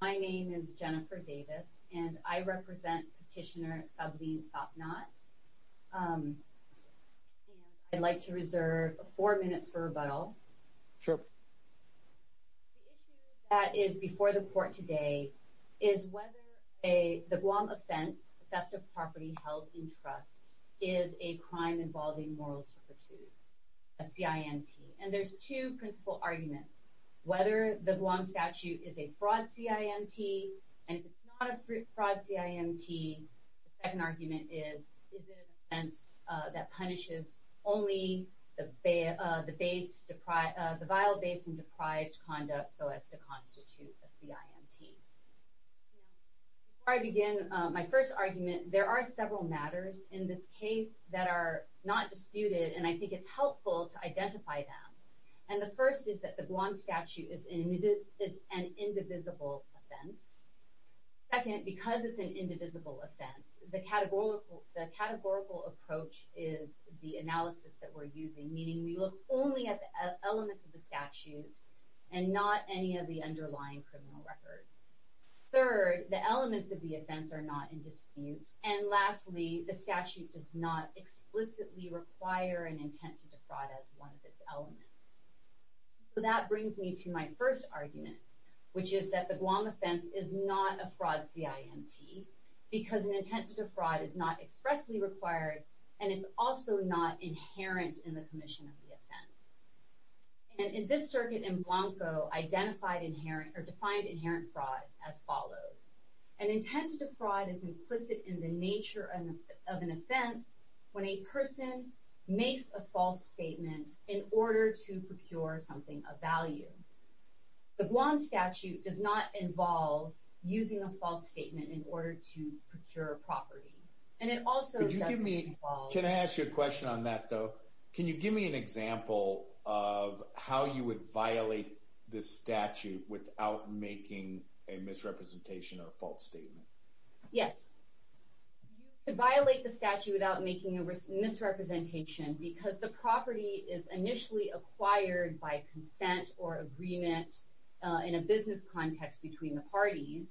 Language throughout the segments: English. My name is Jennifer Davis and I represent Petitioner Sableen Sabnat. I'd like to reserve four minutes for rebuttal. The issue that is before the court today is whether the Guam offense, theft of property held in trust, is a crime involving moral turpitude, a CIMT, and there's two principal arguments. Whether the Guam statute is a fraud CIMT, and if it's not a fraud CIMT, the second argument is, is it an offense that punishes only the vile, base, and deprived conduct so as to constitute a CIMT. Before I begin my first argument, there are several matters in this case that are not disputed, and I think it's helpful to identify them. And the first is that the it's an indivisible offense. Second, because it's an indivisible offense, the categorical approach is the analysis that we're using, meaning we look only at the elements of the statute and not any of the underlying criminal records. Third, the elements of the offense are not in dispute. And lastly, the statute does not explicitly require an intent to defraud as one of its elements. So that brings me to my first argument, which is that the Guam offense is not a fraud CIMT, because an intent to defraud is not expressly required, and it's also not inherent in the commission of the offense. And in this circuit in Blanco, identified inherent, or defined inherent fraud as follows. An intent to defraud is implicit in the nature of an offense when a person makes a false statement in order to procure something of value. The Guam statute does not involve using a false statement in order to procure a property. And it also doesn't involve... Can I ask you a question on that, though? Can you give me an example of how you would violate this statute without making a misrepresentation or a false statement? Yes. You could violate the statute without making a misrepresentation because the property is initially acquired by consent or agreement in a business context between the parties,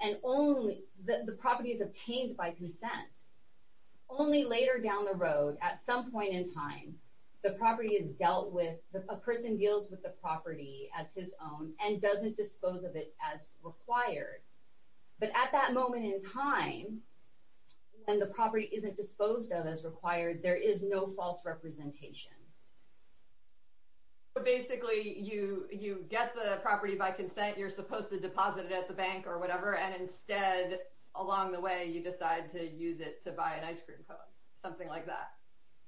and only... The property is obtained by consent. Only later down the road, at some point in time, the property is dealt with... A person deals with the property as his own and doesn't dispose of it as required. But at that moment in time, when the property isn't disposed of as required, there is no false representation. But basically, you get the property by consent. You're supposed to deposit it at the bank or whatever, and instead, along the way, you decide to use it to buy an ice cream cone, something like that.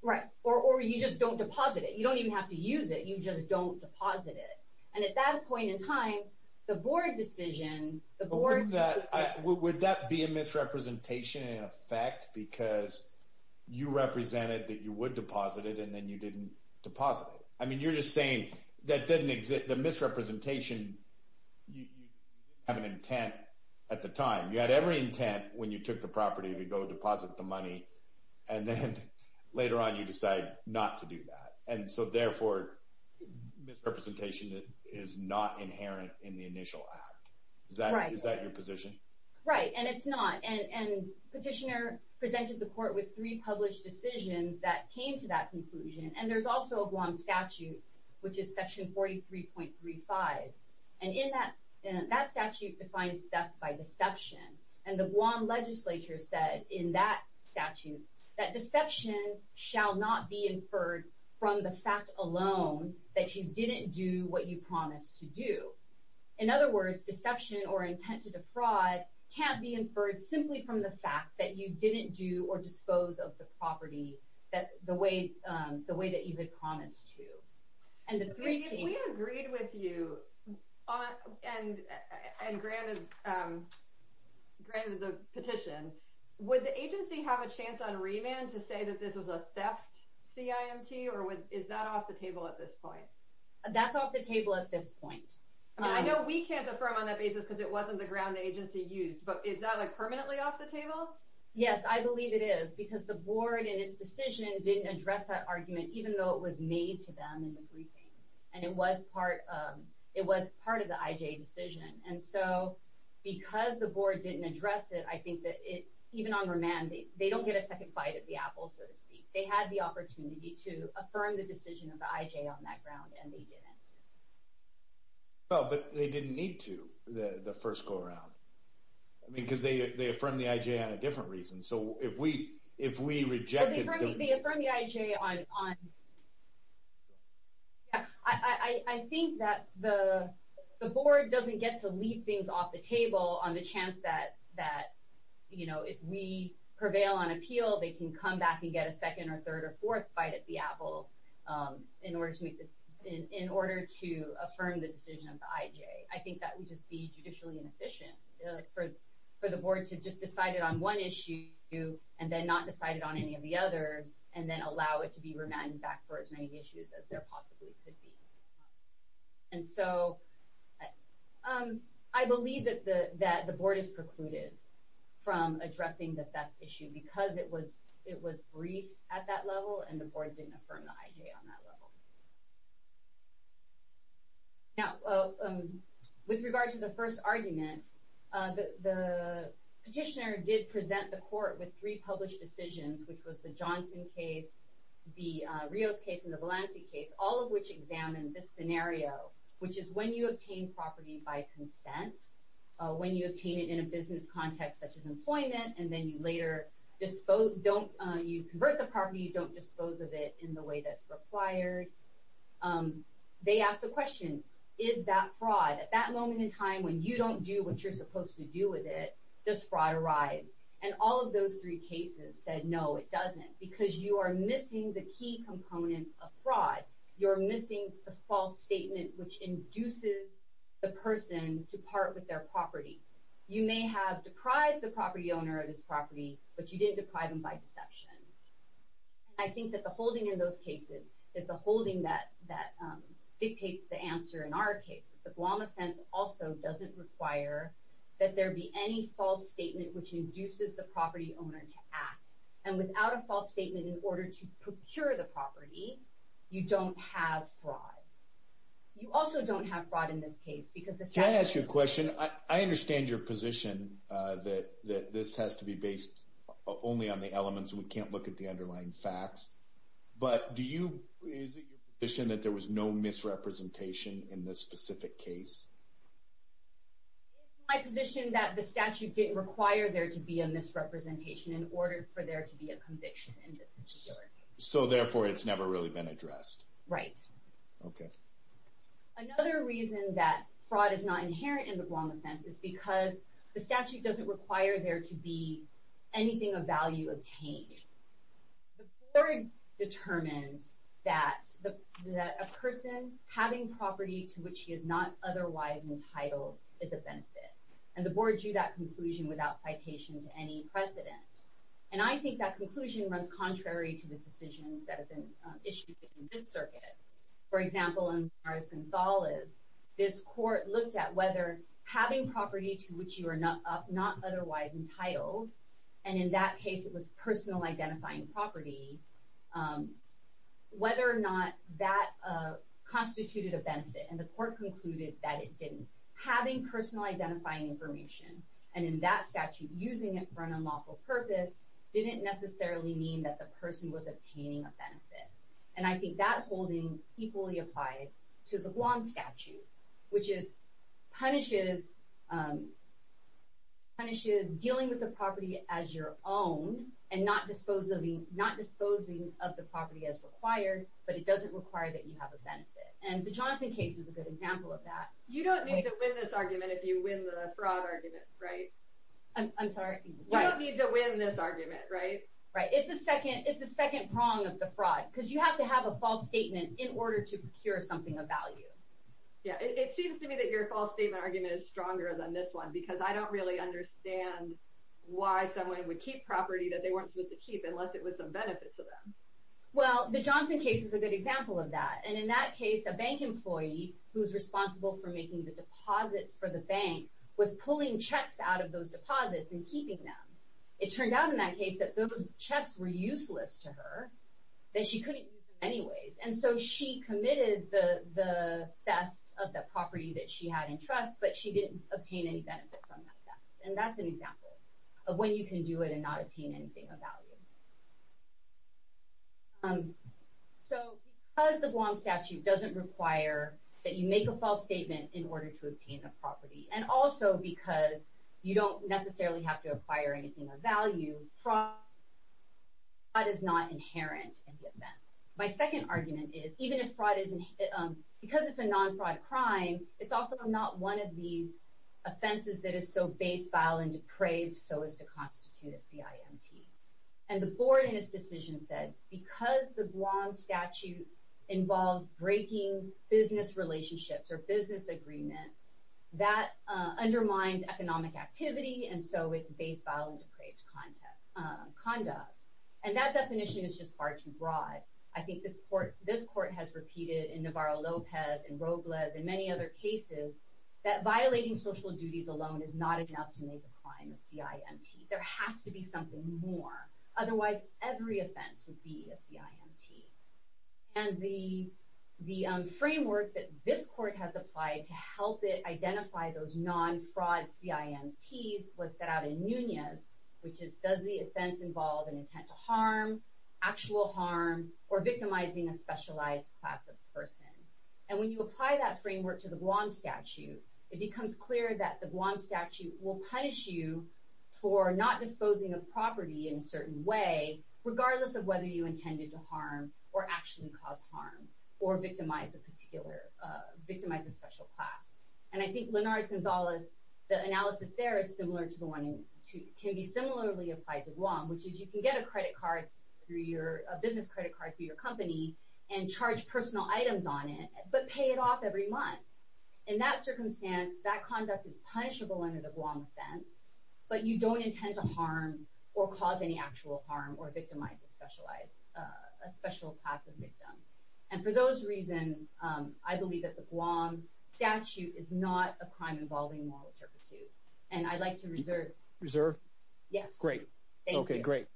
Right. Or you just don't deposit it. You don't even have to use it. You just don't deposit it. And at that point in time, the board decision... But would that be a misrepresentation in effect because you represented that you would deposit it, and then you didn't deposit it? I mean, you're just saying that didn't exist... The misrepresentation, you didn't have an intent at the time. You had every intent when you took the property to go deposit the money, and then later on, you decide not to do that. And so therefore, misrepresentation is not inherent in the initial act. Is that your position? Right. And it's not. And Petitioner presented the court with three published decisions that came to that conclusion, and there's also a Guam statute, which is Section 43.35. And in that statute, it defines theft by deception. And the Guam legislature said in that statute that deception shall not be inferred from the fact alone that you didn't do what you promised to do. In other words, deception or intent to defraud can't be inferred simply from the fact that you didn't do or dispose of the property the way that you had promised to. We agreed with you and granted the petition. Would the agency have a chance on remand to say that this was a theft CIMT, or is that off the table at this point? That's off the table at this point. I know we can't affirm on that basis because it wasn't the ground the agency used, but is that like permanently off the table? Yes, I believe it is, because the board and its decision didn't address that argument, even though it was made to them in the briefing. And it was part of the IJ decision. And so because the board didn't address it, I think that even on remand, they don't get a second bite of the apple, so to speak. They had the opportunity to affirm the decision of the IJ on that ground, and they didn't. Well, but they didn't need to, the first go-around. I mean, because they affirmed the IJ on a different reason. So if we rejected the... Well, they affirmed the IJ on... I think that the board doesn't get to leave things off the table on the chance that, you know, if we prevail on appeal, they can come back and get a second or third or fourth bite at the apple in order to make the... in order to affirm the decision of the IJ. I think that would just be judicially inefficient for the board to just decide it on one issue, and then not decide it on any of the others, and then allow it to be remanded back for as many issues as there possibly could be. And so I believe that the board is precluded from addressing that issue because it was briefed at that level, and the board didn't affirm the IJ on that level. Now, with regard to the first argument, the petitioner did present the court with three published decisions, which was the Johnson case, the Rios case, and the Valancey case, all of which examined this scenario, which is when you obtain property by consent, when you obtain it in a business context such as employment, and then you later don't... you convert the property, you don't dispose of it in the way that's you're supposed to do with it, does fraud arise? And all of those three cases said, no, it doesn't, because you are missing the key components of fraud. You're missing the false statement which induces the person to part with their property. You may have deprived the property owner of his property, but you didn't deprive him by deception. I think that the holding in those cases, that the holding that dictates the answer in our case, the Guam offense also doesn't require that there be any false statement which induces the property owner to act. And without a false statement in order to procure the property, you don't have fraud. You also don't have fraud in this case, because... Can I ask you a question? I understand your position that this has to be based only on the elements, we can't look at the underlying facts, but do you... is it your misrepresentation in this specific case? It's my position that the statute didn't require there to be a misrepresentation in order for there to be a conviction in this particular case. So therefore it's never really been addressed? Right. Okay. Another reason that fraud is not inherent in the Guam offense is because the statute doesn't require there to be anything of value obtained. The board determined that a person having property to which he is not otherwise entitled is a benefit, and the board drew that conclusion without citation to any precedent. And I think that conclusion runs contrary to the decisions that have been issued in this circuit. For example, in Mars Gonzales, this court looked at whether having property to which you are not otherwise entitled, and in that case it was personal identifying property, whether or not that constituted a benefit. And the court concluded that it didn't. Having personal identifying information, and in that statute using it for an unlawful purpose, didn't necessarily mean that the person was obtaining a benefit. And I think that holding equally applied to the Guam statute, which punishes dealing with the property as your own, and not disposing of the property as required, but it doesn't require that you have a benefit. And the Johnson case is a good example of that. You don't need to win this argument if you win the fraud argument, right? I'm sorry? You don't need to win this argument, right? Right. It's the second prong of the fraud, because you have to have a false statement in order to procure something of value. It seems to me that your false statement argument is stronger than this one, because I don't really understand why someone would keep property that they weren't supposed to keep unless it was of benefit to them. Well, the Johnson case is a good example of that. And in that case, a bank employee, who's responsible for making the deposits for the bank, was pulling checks out of those deposits and keeping them. It turned out in that case that those checks were useless to her, that she couldn't use them anyways. And so she committed the theft of that property that she had in trust, but she didn't obtain any benefit from that theft. And that's an example of when you can do it and not obtain anything of value. So, because the Guam statute doesn't require that you make a false statement in order to obtain a property, and also because you don't necessarily have to acquire anything of value, fraud is not inherent in the event. My second argument is, because it's a non-fraud crime, it's also not one of these offenses that is so base, vile, and depraved so as to constitute a CIMT. And the board in its decision said, because the Guam statute involves breaking business relationships or business agreements, that undermines economic activity, and so it's definition is just far too broad. I think this court has repeated in Navarro-Lopez and Robles and many other cases, that violating social duties alone is not enough to make a crime a CIMT. There has to be something more. Otherwise, every offense would be a CIMT. And the framework that this court has applied to help it identify those non-fraud CIMTs was set out in Nunez, which is, does the offense involve an intent to harm, actual harm, or victimizing a specialized class of person? And when you apply that framework to the Guam statute, it becomes clear that the Guam statute will punish you for not disposing of property in a certain way, regardless of whether you intended to harm or actually cause harm, or victimize a particular, victimize a special class. And I think Linares-Gonzalez, the analysis there is similar to the one in, can be similarly applied to Guam, which is you can get a credit card through your, a business credit card through your company, and charge personal items on it, but pay it off every month. In that circumstance, that conduct is punishable under the Guam offense, but you don't intend to harm or cause any actual harm or victimize a specialized, a special class of victim. And for those reasons, I believe that the Guam statute is not a crime involving moral servitude, and I'd like to reserve. Reserve? Yes. Great. Thank you. Okay, great.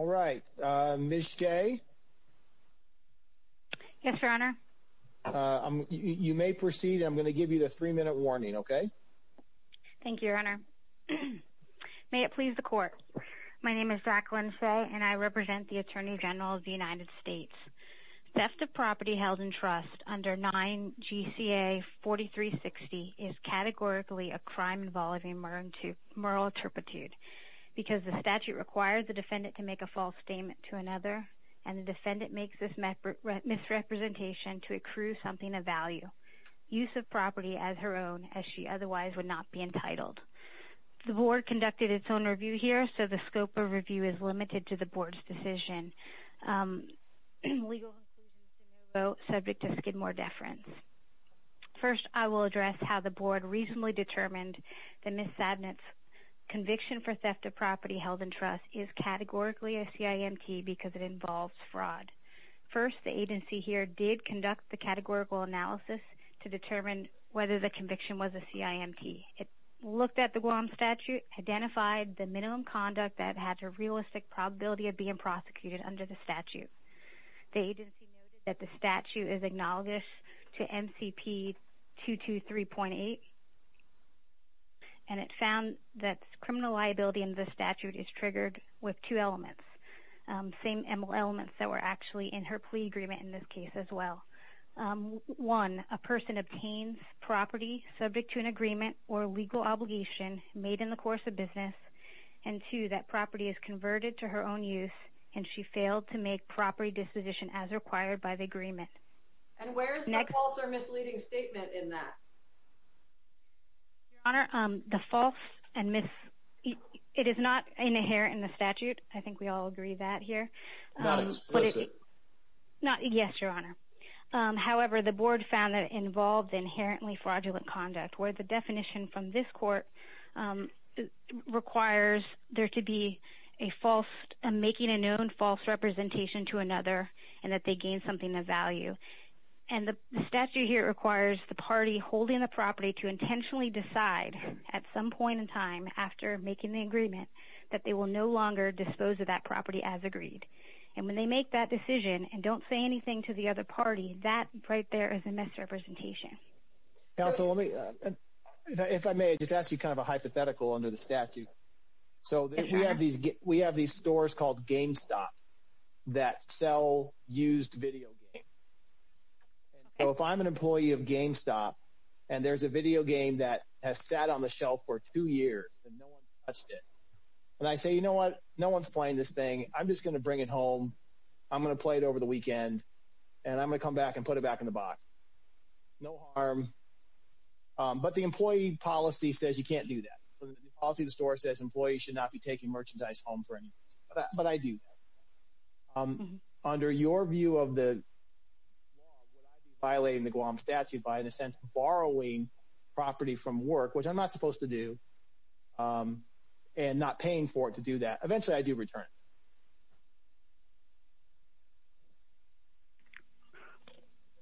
All right, Ms. J? Yes, Your Honor. You may proceed, and I'm going to give you the three-minute warning, okay? Thank you, Your Honor. May it please the Court. My name is Zach Lince, and I represent the United States. Theft of property held in trust under 9 GCA 4360 is categorically a crime involving moral servitude, because the statute requires the defendant to make a false statement to another, and the defendant makes this misrepresentation to accrue something of value, use of property as her own, as she otherwise would not be entitled. The Board legal conclusions to no vote, subject to Skidmore deference. First, I will address how the Board reasonably determined that Ms. Sabnett's conviction for theft of property held in trust is categorically a CIMT because it involves fraud. First, the agency here did conduct the categorical analysis to determine whether the conviction was a CIMT. It looked at the Guam statute, identified the minimum conduct that had a realistic probability of being prosecuted under the statute. The agency noted that the statute is acknowledged to MCP 223.8, and it found that criminal liability under the statute is triggered with two elements, same elements that were actually in her plea agreement in this case as well. One, a person obtains property subject to an agreement or legal obligation made in the course of business, and two, that property is converted to her own use, and she failed to make property disposition as required by the agreement. And where is the false or misleading statement in that? Your Honor, the false and misleading, it is not inherent in the statute. I think we all agree that here. Not explicit. Yes, Your Honor. However, the Board found that it involved inherently fraudulent conduct, where the definition from this court requires there to be a false, making a known false representation to another, and that they gain something of value. And the statute here requires the party holding the property to intentionally decide at some point in time after making the agreement that they will no longer dispose of that property as agreed. And when they make that decision and don't say anything to the other party, that right there is a misrepresentation. Counsel, if I may, just ask you kind of a hypothetical under the statute. So we have these stores called GameStop that sell used video games. So if I'm an employee of GameStop, and there's a video game that has sat on the shelf for two years and no one's touched it, and I say, you know what, no one's playing this thing, I'm just going to bring it home, I'm going to play it over the weekend, and I'm going to come back and put it back in the box. No harm. But the employee policy says you can't do that. The policy of the store says employees should not be taking merchandise home for any reason. But I do. Under your view of the law, would I be violating the Guam statute by, in a sense, borrowing property from work, which I'm not supposed to do, and not paying for it to do that? Eventually, I do return it.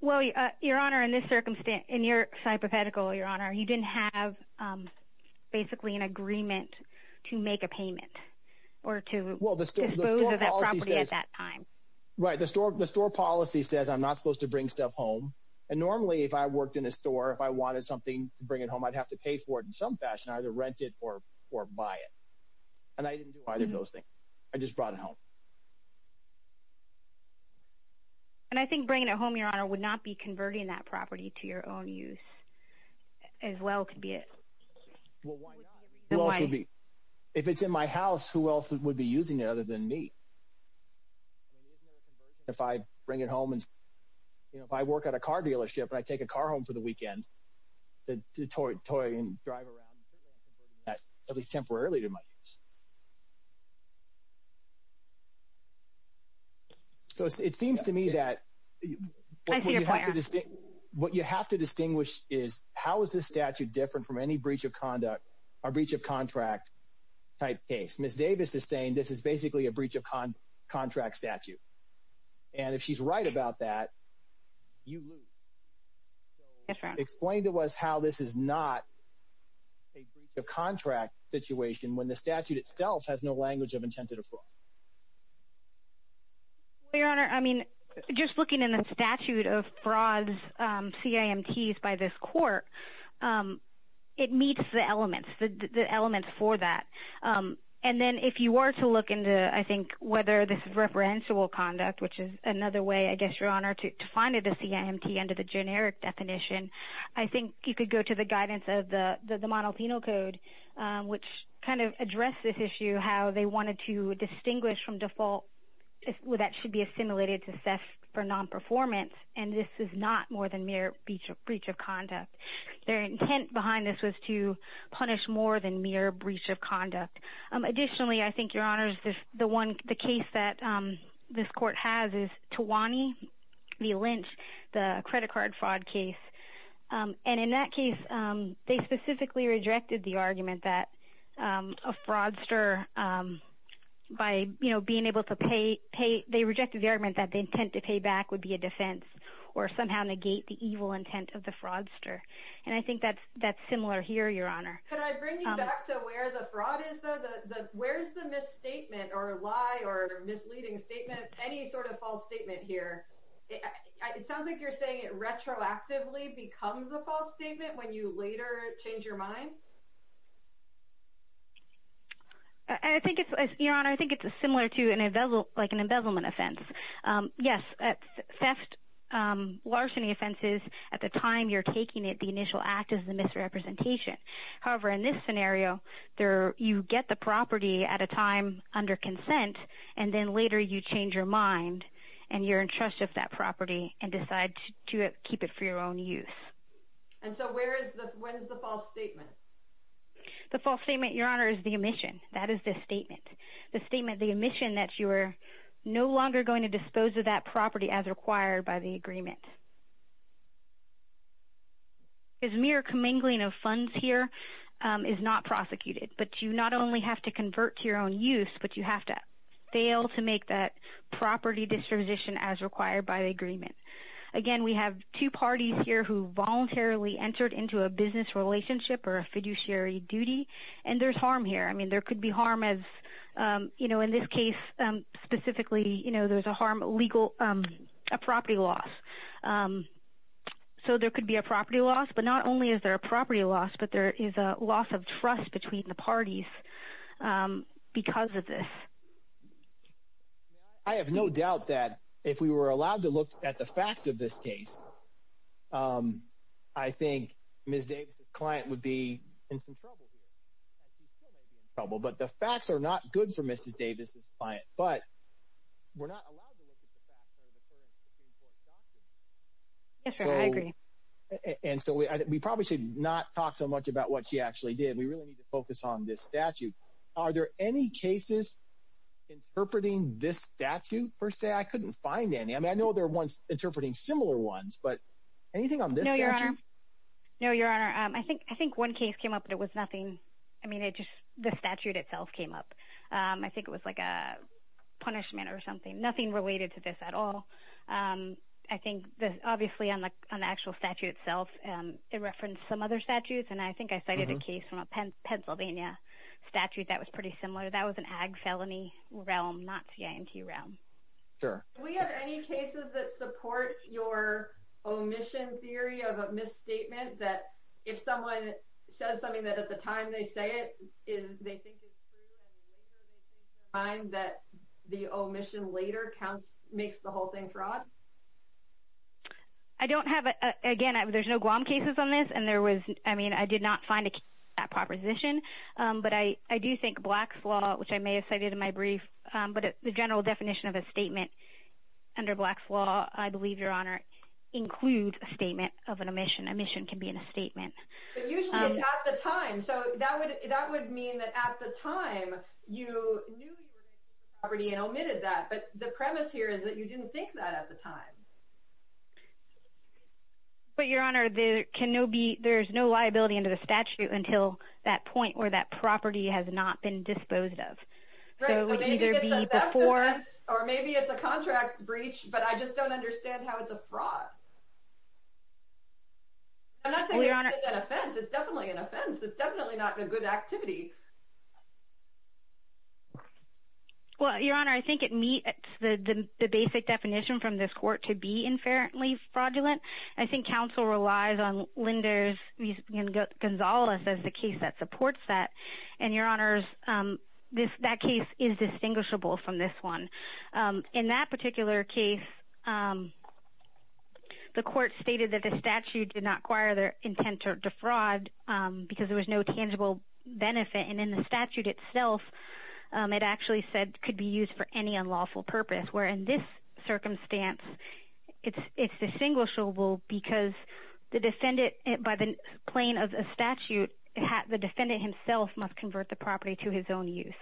Well, your honor, in this circumstance, in your hypothetical, your honor, you didn't have basically an agreement to make a payment or to dispose of that property at that time. Right. The store policy says I'm not supposed to bring stuff home. And normally, if I worked in a store, if I wanted something to bring it home, I'd have to pay for it in some fashion, either rent it or buy it. And I didn't do either of those things. I just brought it home. And I think bringing it home, your honor, would not be converting that property to your own use. As well could be it. Well, why not? If it's in my house, who else would be using it other than me? If I bring it home and, you know, if I work at a car dealership and I take a car home for the weekend, I'm not supposed to toy and drive around and say I'm converting that, at least temporarily, to my use. It seems to me that what you have to distinguish is how is this statute different from any breach of conduct or breach of contract type case. Ms. Davis is saying this is basically a breach of contract statute. And if she's right about that, you lose. Yes, your honor. Explain to us how this is not a breach of contract situation when the statute itself has no language of intent to defraud. Well, your honor, I mean, just looking in the statute of frauds, CIMTs by this court, it meets the elements for that. And then if you were to look into, I think, whether this is referential conduct, which is another way, I guess, your honor, to find it a CIMT under the generic definition, I think you could go to the guidance of the monophenal code, which kind of addressed this issue how they wanted to distinguish from default that should be assimilated to assess for nonperformance. And this is not more than mere breach of conduct. Their intent behind this was to punish more than mere breach of conduct. Additionally, I think, your honor, the case that this court has is Tawani v. Lynch, the credit card fraud case. And in that case, they specifically rejected the argument that a fraudster, by, you know, being able to pay, they rejected the argument that the intent to pay back would be a defense or somehow negate the evil intent of the fraudster. And I think that's similar here, your honor. Could I bring you back to where the fraud is, though? Where's the misstatement or lie or misleading statement, any sort of false statement here? It sounds like you're saying it retroactively becomes a false statement when you later change your mind. I think it's, your honor, I think it's similar to an embezzlement offense. Yes, theft, larceny offenses, at the time you're taking it, the initial act is a misrepresentation. However, in this scenario, you get the property at a time under consent, and then later you change your mind, and you're entrusted with that property and decide to keep it for your own use. And so where is the, when is the false statement? The false statement, your honor, is the omission. That is the statement. The statement, the omission that you are no longer going to dispose of that property as required by the agreement. Because mere commingling of funds here is not prosecuted. But you not only have to convert to your own use, but you have to fail to make that property disposition as required by the agreement. Again, we have two parties here who voluntarily entered into a business relationship or a fiduciary duty, and there's harm here. I mean, there could be harm as, you know, in this case specifically, you know, there's a harm, legal, a property loss. So there could be a property loss, but not only is there a property loss, but there is a loss of trust between the parties because of this. I have no doubt that if we were allowed to look at the facts of this case, I think Ms. Davis's client would be in some trouble here. She still may be in trouble, but the facts are not good for Mrs. Davis's client. But we're not allowed to look at the facts under the current Supreme Court doctrine. Yes, sir, I agree. And so we probably should not talk so much about what she actually did. We really need to focus on this statute. Are there any cases interpreting this statute per se? I couldn't find any. I mean, I know there are ones interpreting similar ones, but anything on this statute? No, Your Honor. No, Your Honor. I think one case came up that was nothing. I mean, it just—the statute itself came up. I think it was like a punishment or something. Nothing related to this at all. I think, obviously, on the actual statute itself, it referenced some other statutes, and I think I cited a case from a Pennsylvania statute that was pretty similar. That was an ag felony realm, not the IMT realm. Sure. Do we have any cases that support your omission theory of a misstatement that if someone says something that at the time they say it, they think it's true and later they think that the omission later makes the whole thing fraud? I don't have—again, there's no Guam cases on this, and there was—I mean, I did not find that proposition. But I do think Black's Law, which I may have cited in my brief, but the general definition of a statement under Black's Law, I believe, Your Honor, includes a statement of an omission. Omission can be in a statement. But usually it's at the time. So that would mean that at the time you knew you were making a property and omitted that. But the premise here is that you didn't think that at the time. But, Your Honor, there's no liability under the statute until that point where that property has not been disposed of. Right. So maybe it's a theft offense, or maybe it's a contract breach, but I just don't understand how it's a fraud. I'm not saying it's an offense. It's definitely an offense. It's definitely not a good activity. Well, Your Honor, I think it meets the basic definition from this court to be inferiorly fraudulent. I think counsel relies on Linder's and Gonzales' as the case that supports that. And, Your Honors, that case is distinguishable from this one. In that particular case, the court stated that the statute did not acquire the intent to defraud because there was no tangible benefit. And in the statute itself, it actually said could be used for any unlawful purpose, where in this circumstance it's distinguishable because the defendant, by the plain of the statute, the defendant himself must convert the property to his own use.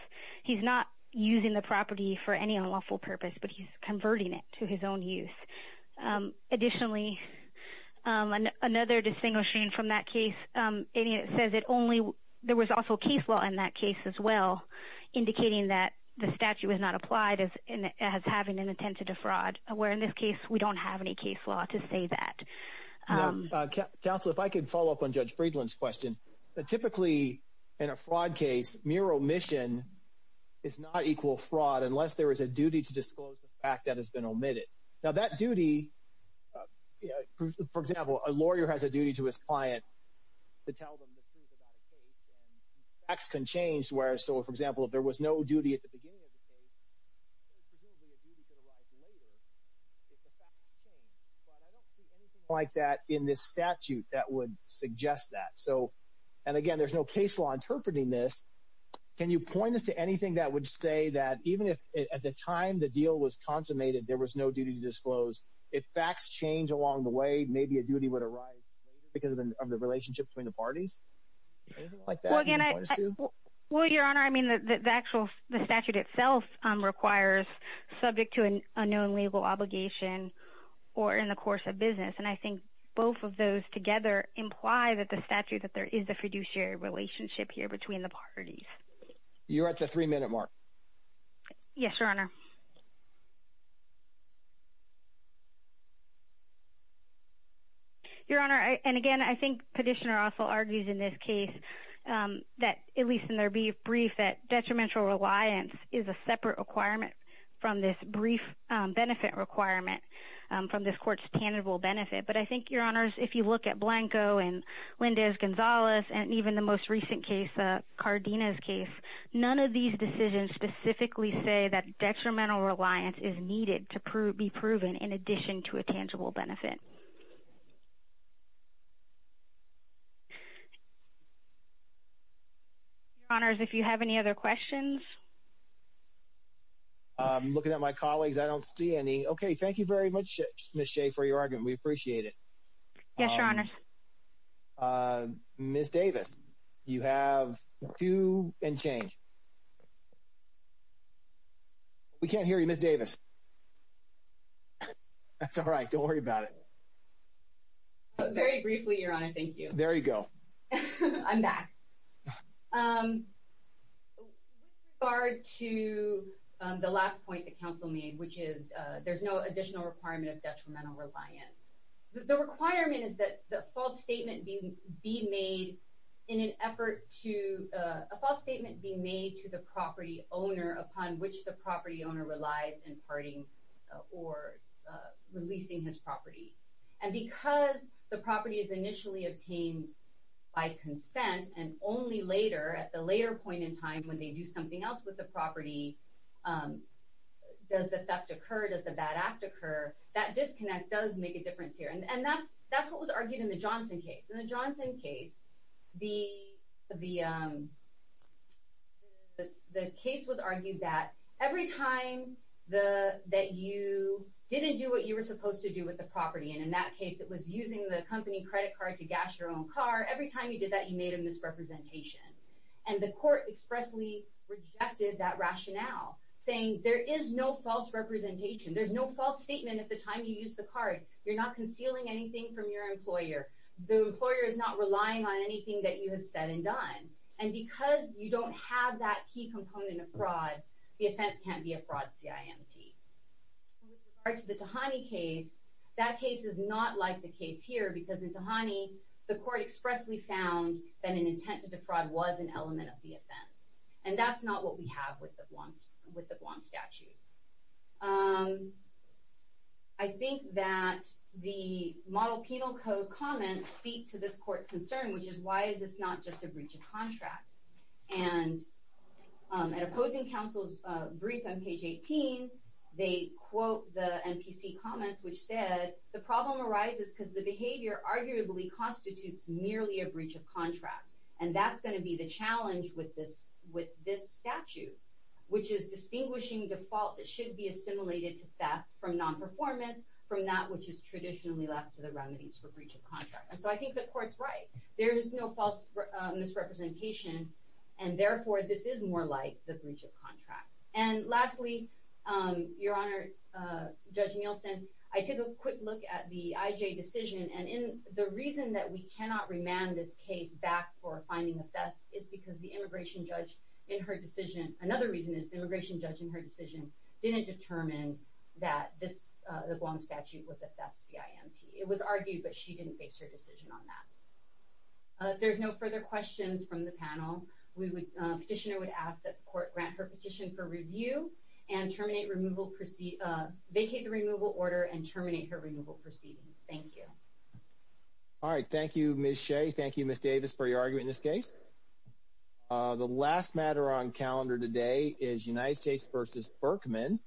He's not using the property for any unlawful purpose, but he's converting it to his own use. Additionally, another distinguishing from that case, it says there was also case law in that case as well, indicating that the statute was not applied as having an intent to defraud, where in this case we don't have any case law to say that. Counsel, if I could follow up on Judge Friedland's question. Typically, in a fraud case, mere omission is not equal fraud unless there is a duty to disclose the fact that has been omitted. Now, that duty – for example, a lawyer has a duty to his client to tell them the truth about a case, and facts can change. So, for example, if there was no duty at the beginning of the case, presumably a duty could arise later if the facts change. But I don't see anything like that in this statute that would suggest that. So – and again, there's no case law interpreting this. Can you point us to anything that would say that even if at the time the deal was consummated there was no duty to disclose, if facts change along the way, maybe a duty would arise later because of the relationship between the parties? Anything like that you can point us to? Well, Your Honor, I mean the actual – the statute itself requires subject to an unknown legal obligation or in the course of business. And I think both of those together imply that the statute – that there is a fiduciary relationship here between the parties. You're at the three-minute mark. Yes, Your Honor. Your Honor, and again, I think Petitioner also argues in this case that – at least in their brief – that detrimental reliance is a separate requirement from this brief benefit requirement, from this court's tangible benefit. But I think, Your Honors, if you look at Blanco and Lindez-Gonzalez and even the most recent case, Cardenas' case, none of these decisions specifically say that detrimental reliance is needed to be proven in addition to a tangible benefit. Your Honors, if you have any other questions? I'm looking at my colleagues. I don't see any. Okay. Thank you very much, Ms. Shea, for your argument. We appreciate it. Yes, Your Honors. Ms. Davis, you have two and change. We can't hear you, Ms. Davis. That's all right. Don't worry about it. Very briefly, Your Honor. Thank you. There you go. I'm back. With regard to the last point the counsel made, which is there's no additional requirement of detrimental reliance, the requirement is that a false statement be made to the property owner upon which the property owner relies in parting or releasing his property. And because the property is initially obtained by consent and only later, at the later point in time, when they do something else with the property, does the theft occur, does the bad act occur, that disconnect does make a difference here. And that's what was argued in the Johnson case. In the Johnson case, the case was argued that every time that you didn't do what you were supposed to do with the property, and in that case, it was using the company credit card to gas your own car, every time you did that, you made a misrepresentation. And the court expressly rejected that rationale, saying there is no false representation. There's no false statement at the time you used the card. You're not concealing anything from your employer. The employer is not relying on anything that you have said and done. And because you don't have that key component of fraud, the offense can't be a fraud, CIMT. With regard to the Tahani case, that case is not like the case here, because in Tahani, the court expressly found that an intent to defraud was an element of the offense. And that's not what we have with the Blanc statute. I think that the model penal code comments speak to this court's concern, which is why is this not just a breach of contract? And at opposing counsel's brief on page 18, they quote the MPC comments, which said, the problem arises because the behavior arguably constitutes merely a breach of contract. And that's going to be the challenge with this statute, which is distinguishing default that should be assimilated to theft from nonperformance from that which is traditionally left to the remedies for breach of contract. And so I think the court's right. There is no false misrepresentation, and therefore this is more like the breach of contract. And lastly, Your Honor, Judge Nielsen, I took a quick look at the IJ decision. And the reason that we cannot remand this case back for a finding of theft is because the immigration judge in her decision, another reason is the immigration judge in her decision didn't determine that the Blanc statute was a theft CIMT. It was argued, but she didn't base her decision on that. If there's no further questions from the panel, the petitioner would ask that the court grant her petition for review and vacate the removal order and terminate her removal proceedings. Thank you. All right. Thank you, Ms. Shea. Thank you, Ms. Davis, for your argument in this case. The last matter on calendar today is United States v. Berkman.